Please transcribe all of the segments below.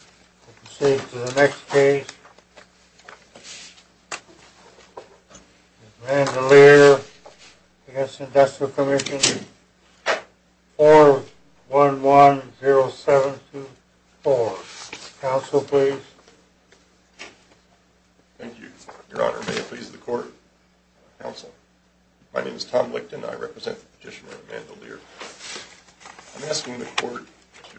We proceed to the next case, Mandeleer v. Industrial Commission, 4110724. Counsel, please. Thank you, Your Honor. May it please the Court, Counsel. My name is Tom Licton. I represent Petitioner Mandeleer. I'm asking the Court to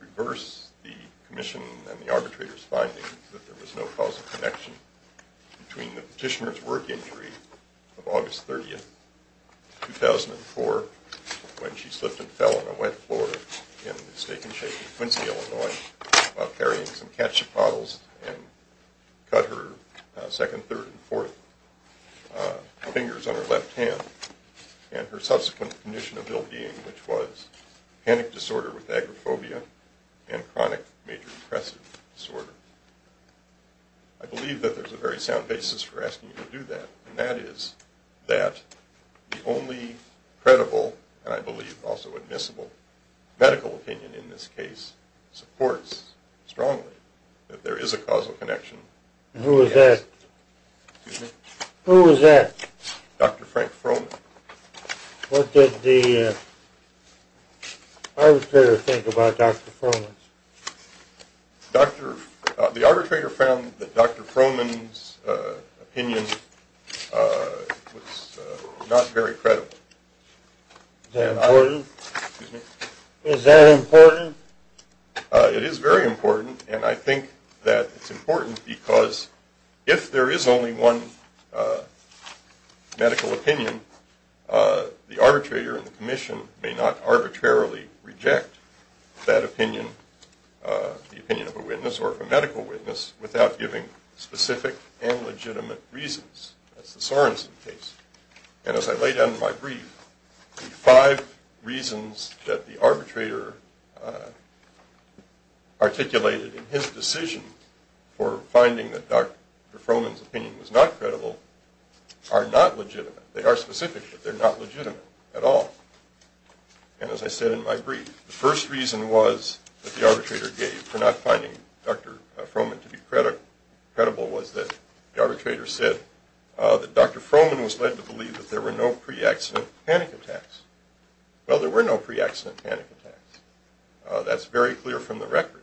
reverse the Commission and the arbitrator's findings that there was no causal connection between the Petitioner's work injury of August 30, 2004, when she slipped and fell on a wet floor in the mistaken shape of Quincy, Illinois, while carrying some ketchup bottles and cut her second, third, and fourth fingers on her left hand, and her subsequent condition of ill-being, which was panic disorder with agoraphobia and chronic major depressive disorder. I believe that there's a very sound basis for asking you to do that, and that is that the only credible, and I believe also admissible, medical opinion in this case supports strongly that there is a causal connection. Who was that? Excuse me? Who was that? Dr. Frank Froman. What did the arbitrator think about Dr. Froman? The arbitrator found that Dr. Froman's opinion was not very credible. Is that important? Excuse me? Is that important? medical opinion, the arbitrator and the Commission may not arbitrarily reject that opinion, the opinion of a witness or of a medical witness, without giving specific and legitimate reasons. That's the Sorensen case. And as I laid out in my brief, the five reasons that the arbitrator articulated in his decision for finding that Dr. Froman's opinion was not credible are not legitimate. They are specific, but they're not legitimate at all. And as I said in my brief, the first reason was that the arbitrator gave for not finding Dr. Froman to be credible was that the arbitrator said that Dr. Froman was led to believe that there were no pre-accident panic attacks. Well, there were no pre-accident panic attacks. That's very clear from the record.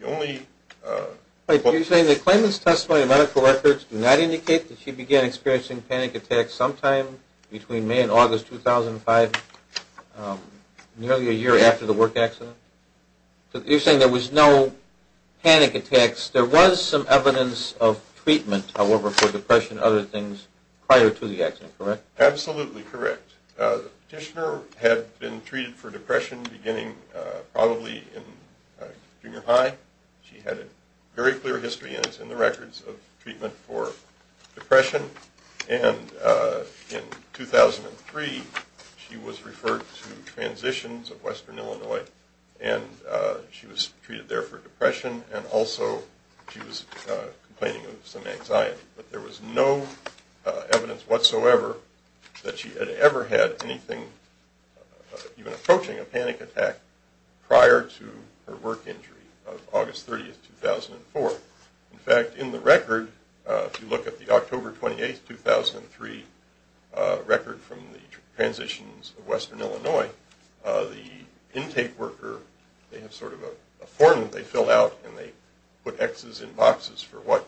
You're saying the claimant's testimony and medical records do not indicate that she began experiencing panic attacks sometime between May and August 2005, nearly a year after the work accident? You're saying there was no panic attacks. There was some evidence of treatment, however, for depression and other things prior to the accident, correct? Absolutely correct. The petitioner had been treated for depression beginning probably in junior high. She had a very clear history, and it's in the records, of treatment for depression. And in 2003, she was referred to Transitions of Western Illinois, and she was treated there for depression, and also she was complaining of some anxiety. But there was no evidence whatsoever that she had ever had anything, even approaching a panic attack, prior to her work injury of August 30, 2004. In fact, in the record, if you look at the October 28, 2003 record from the Transitions of Western Illinois, the intake worker, they have sort of a form that they fill out, and they put X's in boxes for what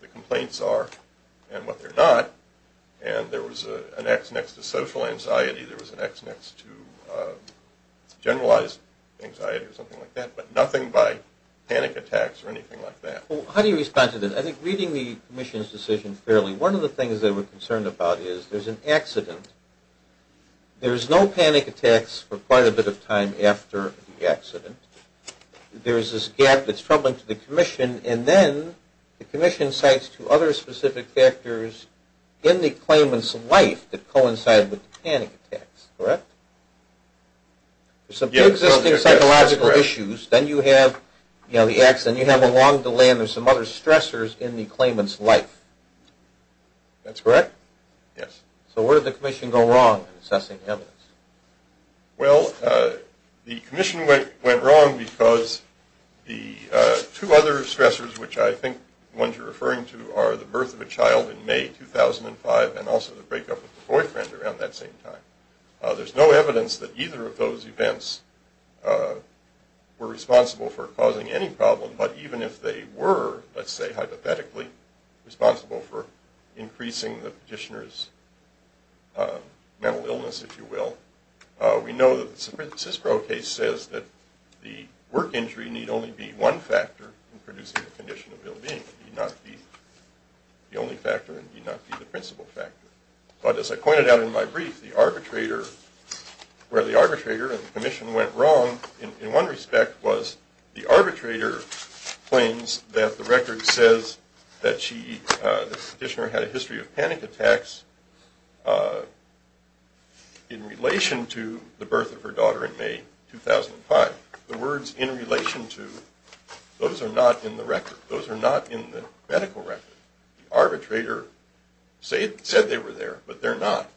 the complaints are and what they're not. And there was an X next to social anxiety, there was an X next to generalized anxiety or something like that, but nothing by panic attacks or anything like that. How do you respond to this? I think reading the commission's decision fairly, one of the things that we're concerned about is there's an accident. There's no panic attacks for quite a bit of time after the accident. There's this gap that's troubling to the commission, and then the commission cites two other specific factors in the claimant's life that coincide with panic attacks, correct? There's some pre-existing psychological issues, then you have the accident, you have a long delay, and there's some other stressors in the claimant's life. That's correct? Yes. So where did the commission go wrong in assessing evidence? Well, the commission went wrong because the two other stressors, which I think ones you're referring to, are the birth of a child in May 2005 and also the breakup of the boyfriend around that same time. There's no evidence that either of those events were responsible for causing any problem, but even if they were, let's say hypothetically, responsible for increasing the petitioner's mental illness, if you will, we know that the San Francisco case says that the work injury need only be one factor in producing a condition of ill-being. It need not be the only factor, it need not be the principal factor. But as I pointed out in my brief, the arbitrator, where the arbitrator and the commission went wrong, in one respect was the arbitrator claims that the record says that the petitioner had a history of panic attacks in relation to the birth of her daughter in May 2005. The words in relation to, those are not in the record. Those are not in the medical record. The arbitrator said they were there, but they're not.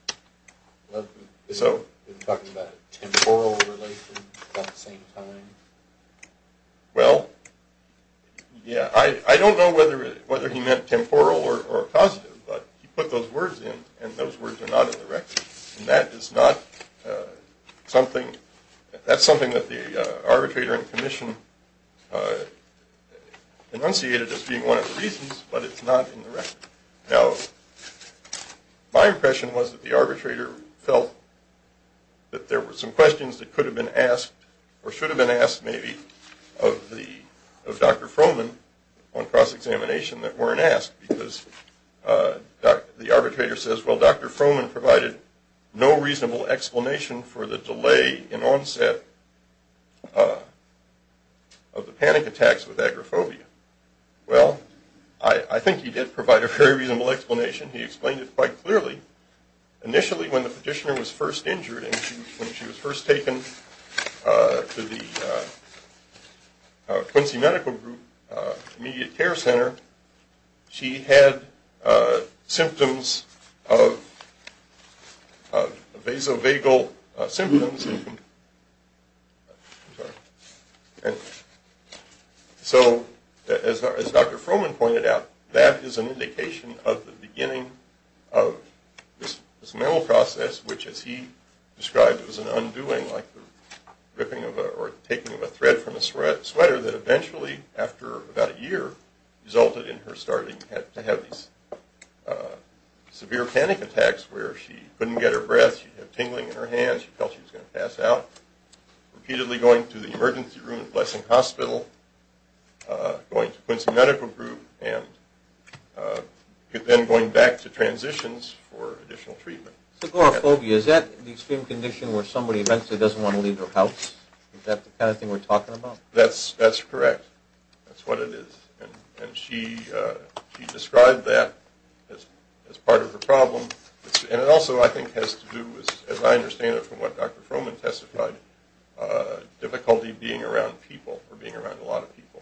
So? You're talking about temporal relation at that same time? Well, yeah, I don't know whether he meant temporal or positive, but he put those words in, and those words are not in the record. And that is not something, that's something that the arbitrator and commission enunciated as being one of the reasons, but it's not in the record. Now, my impression was that the arbitrator felt that there were some questions that could have been asked, or should have been asked maybe, of Dr. Frohman on cross-examination that weren't asked, because the arbitrator says, well, Dr. Frohman provided no reasonable explanation for the delay in onset of the panic attacks with agoraphobia. Well, I think he did provide a very reasonable explanation. He explained it quite clearly. Initially, when the petitioner was first injured and when she was first taken to the Quincy Medical Group immediate care center, she had symptoms of vasovagal symptoms. So, as Dr. Frohman pointed out, that is an indication of the beginning of this mental process, which as he described was an undoing, like the ripping of a, or taking of a thread from a sweater, that eventually, after about a year, resulted in her starting to have these severe panic attacks, where she couldn't get her breath, she had tingling in her hands, she felt she was going to pass out. Repeatedly going to the emergency room at Blessing Hospital, going to Quincy Medical Group, and then going back to transitions for additional treatment. Agoraphobia, is that the extreme condition where somebody eventually doesn't want to leave their house? Is that the kind of thing we're talking about? That's correct. That's what it is. And she described that as part of her problem. And it also, I think, has to do, as I understand it from what Dr. Frohman testified, difficulty being around people, or being around a lot of people.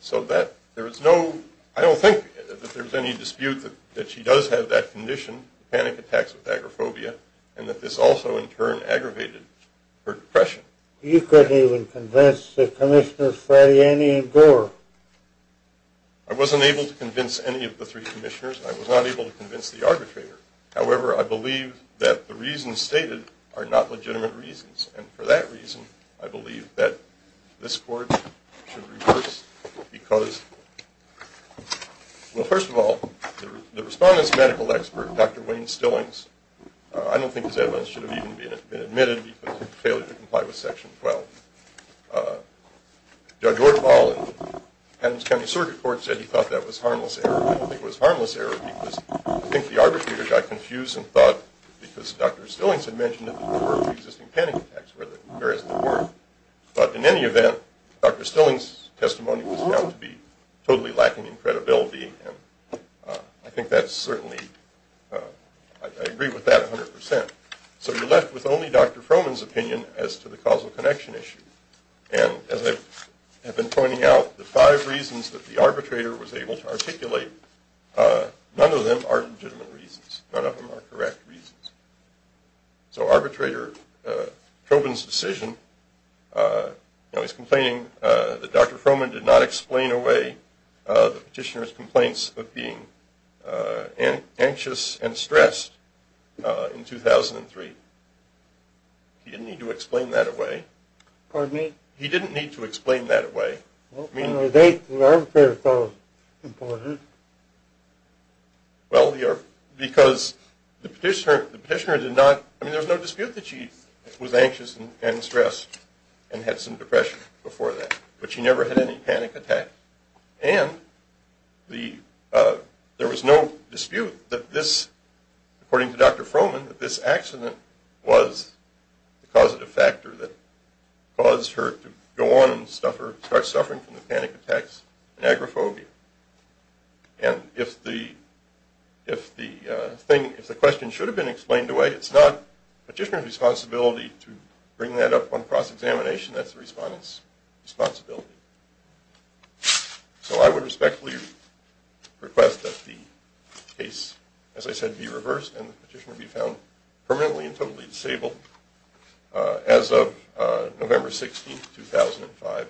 So that, there is no, I don't think that there's any dispute that she does have that condition, panic attacks with agoraphobia, and that this also, in turn, aggravated her depression. You couldn't even convince the commissioners, Frattiani and Gore? I wasn't able to convince any of the three commissioners, and I was not able to convince the arbitrator. However, I believe that the reasons stated are not legitimate reasons. And for that reason, I believe that this court should reverse, because, well, first of all, the respondent's medical expert, Dr. Wayne Stillings, I don't think his evidence should have even been admitted because of his failure to comply with Section 12. Judge Ortval in Adams County Circuit Court said he thought that was harmless error. I don't think it was harmless error, because I think the arbitrator got confused and thought, because Dr. Stillings had mentioned that there were existing panic attacks, whereas there weren't. But in any event, Dr. Stillings' testimony was found to be totally lacking in credibility, and I think that's certainly, I agree with that 100%. So you're left with only Dr. Froman's opinion as to the causal connection issue. And as I have been pointing out, the five reasons that the arbitrator was able to articulate, none of them are legitimate reasons. None of them are correct reasons. So arbitrator Chauvin's decision, you know, he's complaining that Dr. Froman did not explain away the petitioner's complaints of being anxious and stressed in 2003. He didn't need to explain that away. Pardon me? He didn't need to explain that away. Well, on a date, the arbitrator thought it was important. Well, because the petitioner did not, I mean, there was no dispute that she was anxious and stressed and had some depression before that, but she never had any panic attacks. And there was no dispute that this, according to Dr. Froman, that this accident was the causative factor that caused her to go on and start suffering from the panic attacks and agoraphobia. And if the question should have been explained away, it's not the petitioner's responsibility to bring that up on cross-examination. That's the respondent's responsibility. So I would respectfully request that the case, as I said, be reversed and the petitioner be found permanently and totally disabled as of November 16, 2005.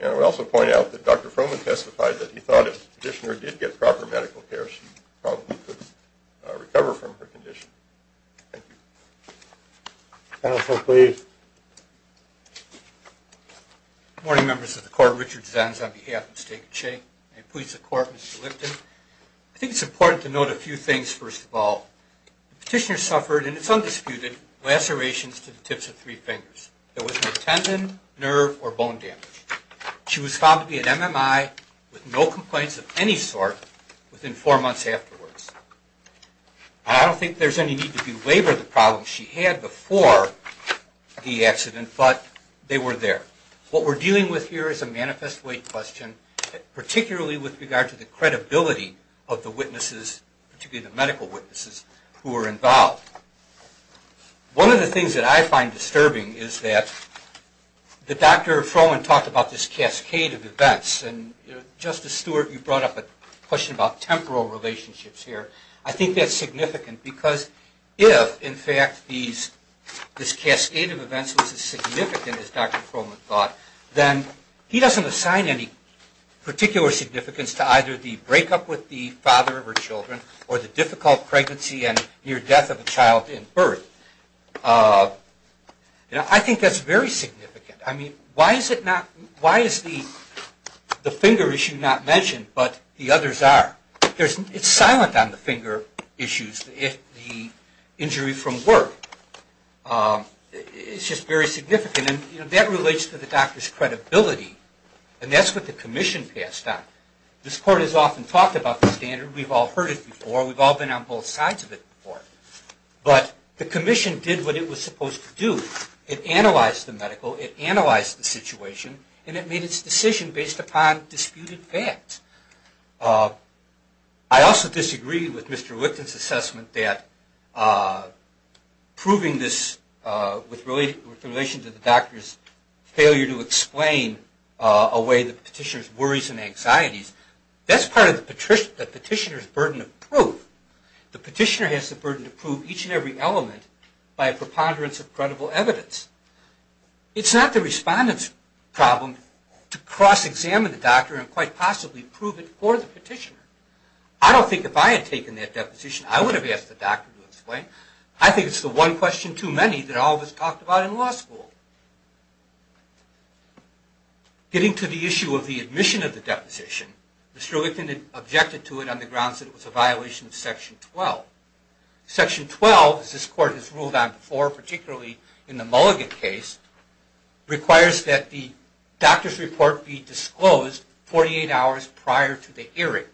And I would also point out that Dr. Froman testified that he thought if the petitioner did get proper medical care, she probably could recover from her condition. Thank you. Counsel, please. Good morning, members of the Court. Richard Zenz on behalf of the State of Cheyenne. May it please the Court, Mr. Lipton. I think it's important to note a few things, first of all. The petitioner suffered, and it's undisputed, lacerations to the tips of three fingers. There was no tendon, nerve, or bone damage. She was found to be an MMI with no complaints of any sort within four months afterwards. And I don't think there's any need to belabor the problems she had before the accident, but they were there. What we're dealing with here is a manifest weight question, particularly with regard to the credibility of the witnesses, particularly the medical witnesses who were involved. One of the things that I find disturbing is that Dr. Froman talked about this cascade of events. And Justice Stewart, you brought up a question about temporal relationships here. I think that's significant because if, in fact, this cascade of events was as significant as Dr. Froman thought, then he doesn't assign any particular significance to either the breakup with the father of her children or the difficult pregnancy and near death of a child in birth. I think that's very significant. I mean, why is the finger issue not mentioned but the others are? It's silent on the finger issues, the injury from work. It's just very significant. And that relates to the doctor's credibility, and that's what the commission passed on. This court has often talked about the standard. We've all heard it before. We've all been on both sides of it before. But the commission did what it was supposed to do. It analyzed the medical. It analyzed the situation. And it made its decision based upon disputed facts. I also disagree with Mr. Lipton's assessment that proving this with relation to the doctor's failure to explain a way to the petitioner's worries and anxieties, that's part of the petitioner's burden of proof. The petitioner has the burden to prove each and every element by a preponderance of credible evidence. It's not the respondent's problem to cross-examine the doctor and quite possibly prove it for the petitioner. I don't think if I had taken that deposition I would have asked the doctor to explain. I think it's the one question too many that all of us talked about in law school. Getting to the issue of the admission of the deposition, Mr. Lipton objected to it on the grounds that it was a violation of Section 12. Section 12, as this court has ruled on before, particularly in the Mulligan case, requires that the doctor's report be disclosed 48 hours prior to the hearing.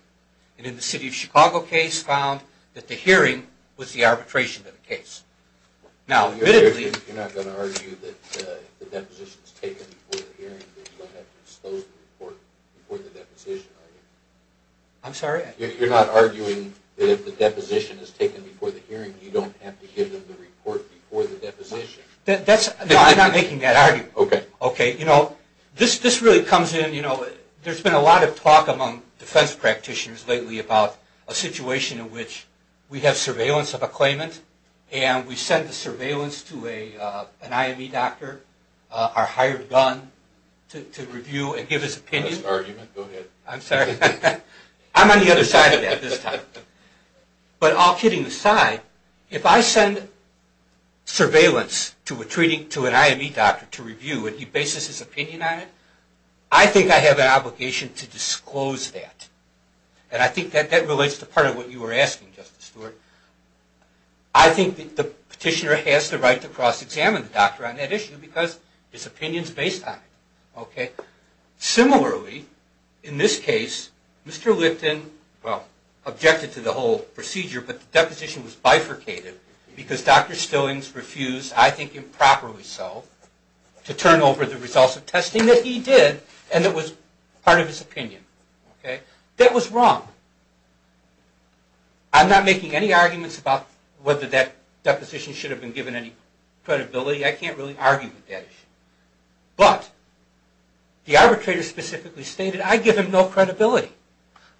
And in the City of Chicago case found that the hearing was the arbitration of the case. You're not going to argue that if the deposition is taken before the hearing you don't have to disclose the report before the deposition, are you? I'm sorry? You're not arguing that if the deposition is taken before the hearing you don't have to give them the report before the deposition? No, I'm not making that argument. Okay. This really comes in, there's been a lot of talk among defense practitioners lately about a situation in which we have surveillance of a claimant and we send the surveillance to an IME doctor, our hired gun, to review and give his opinion. That's an argument, go ahead. I'm sorry. I'm on the other side of that this time. But all kidding aside, if I send surveillance to an IME doctor to review and he bases his opinion on it, I think I have an obligation to disclose that. And I think that relates to part of what you were asking, Justice Stewart. I think the petitioner has the right to cross-examine the doctor on that issue because his opinion is based on it. Similarly, in this case, Mr. Lipton objected to the whole procedure but the deposition was bifurcated because Dr. Stillings refused, I think improperly so, to turn over the results of testing that he did and that was part of his opinion. That was wrong. I'm not making any arguments about whether that deposition should have been given any credibility. I can't really argue with that issue. But the arbitrator specifically stated, I give him no credibility.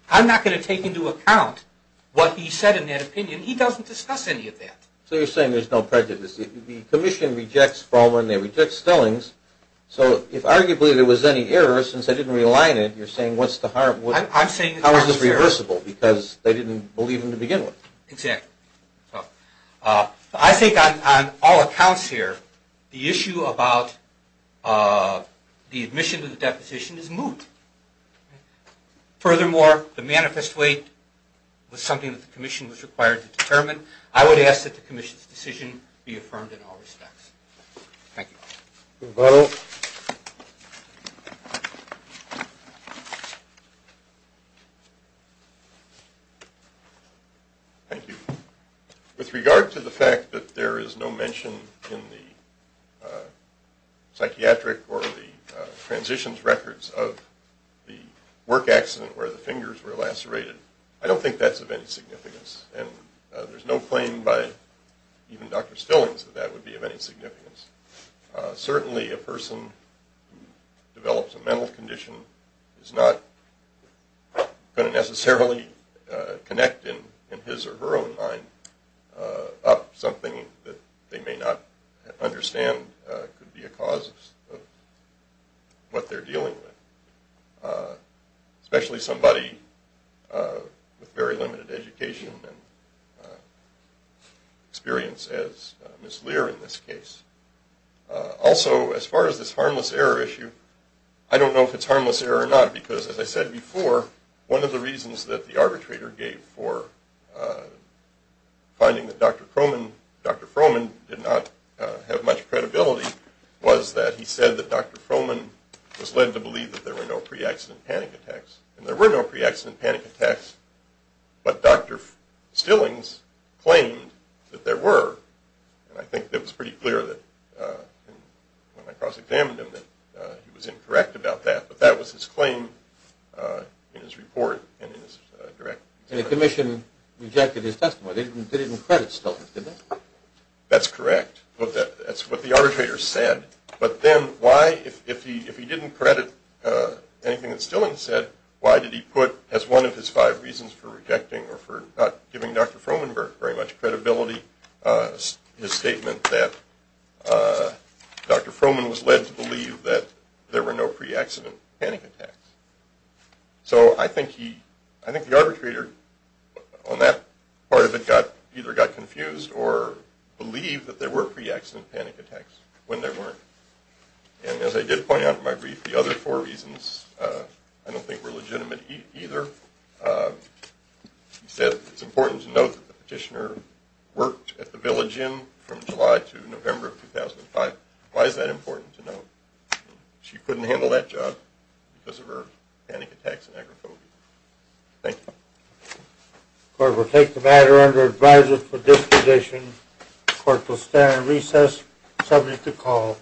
I'm not going to take into account what he said in that opinion. He doesn't discuss any of that. So you're saying there's no prejudice. The commission rejects Froman, they reject Stillings. So if arguably there was any error, since they didn't realign it, you're saying what's the harm? I'm saying it's not fair. How is this reversible because they didn't believe him to begin with? Exactly. I think on all accounts here, the issue about the admission to the deposition is moot. Furthermore, the manifest weight was something that the commission was required to determine. I would ask that the commission's decision be affirmed in all respects. Thank you. Thank you. With regard to the fact that there is no mention in the psychiatric or the transitions records of the work accident where the fingers were lacerated, I don't think that's of any significance. And there's no claim by even Dr. Stillings that that would be of any significance. Certainly a person who develops a mental condition is not going to necessarily connect in his or her own mind up something that they may not understand could be a cause of what they're dealing with, especially somebody with very limited education and experience as Ms. Lear in this case. Also, as far as this harmless error issue, I don't know if it's harmless error or not, because as I said before, one of the reasons that the arbitrator gave for finding that Dr. Froman did not have much credibility was that he said that Dr. Froman was led to believe that there were no pre-accident panic attacks. And there were no pre-accident panic attacks, but Dr. Stillings claimed that there were. And I think it was pretty clear when I cross-examined him that he was incorrect about that, but that was his claim in his report and in his direct testimony. And the commission rejected his testimony. They didn't credit Stillings, did they? That's correct. That's what the arbitrator said. But then why, if he didn't credit anything that Stillings said, why did he put as one of his five reasons for rejecting or for not giving Dr. Froman very much credibility his statement that Dr. Froman was led to believe that there were no pre-accident panic attacks? So I think the arbitrator on that part of it either got confused or believed that there were pre-accident panic attacks when there weren't. And as I did point out in my brief, the other four reasons I don't think were legitimate either. He said it's important to note that the petitioner worked at the Village Inn from July to November of 2005. Why is that important to note? She couldn't handle that job because of her panic attacks and agoraphobia. Thank you. The court will take the matter under advisory for disposition. The court will stand on recess, subject to call.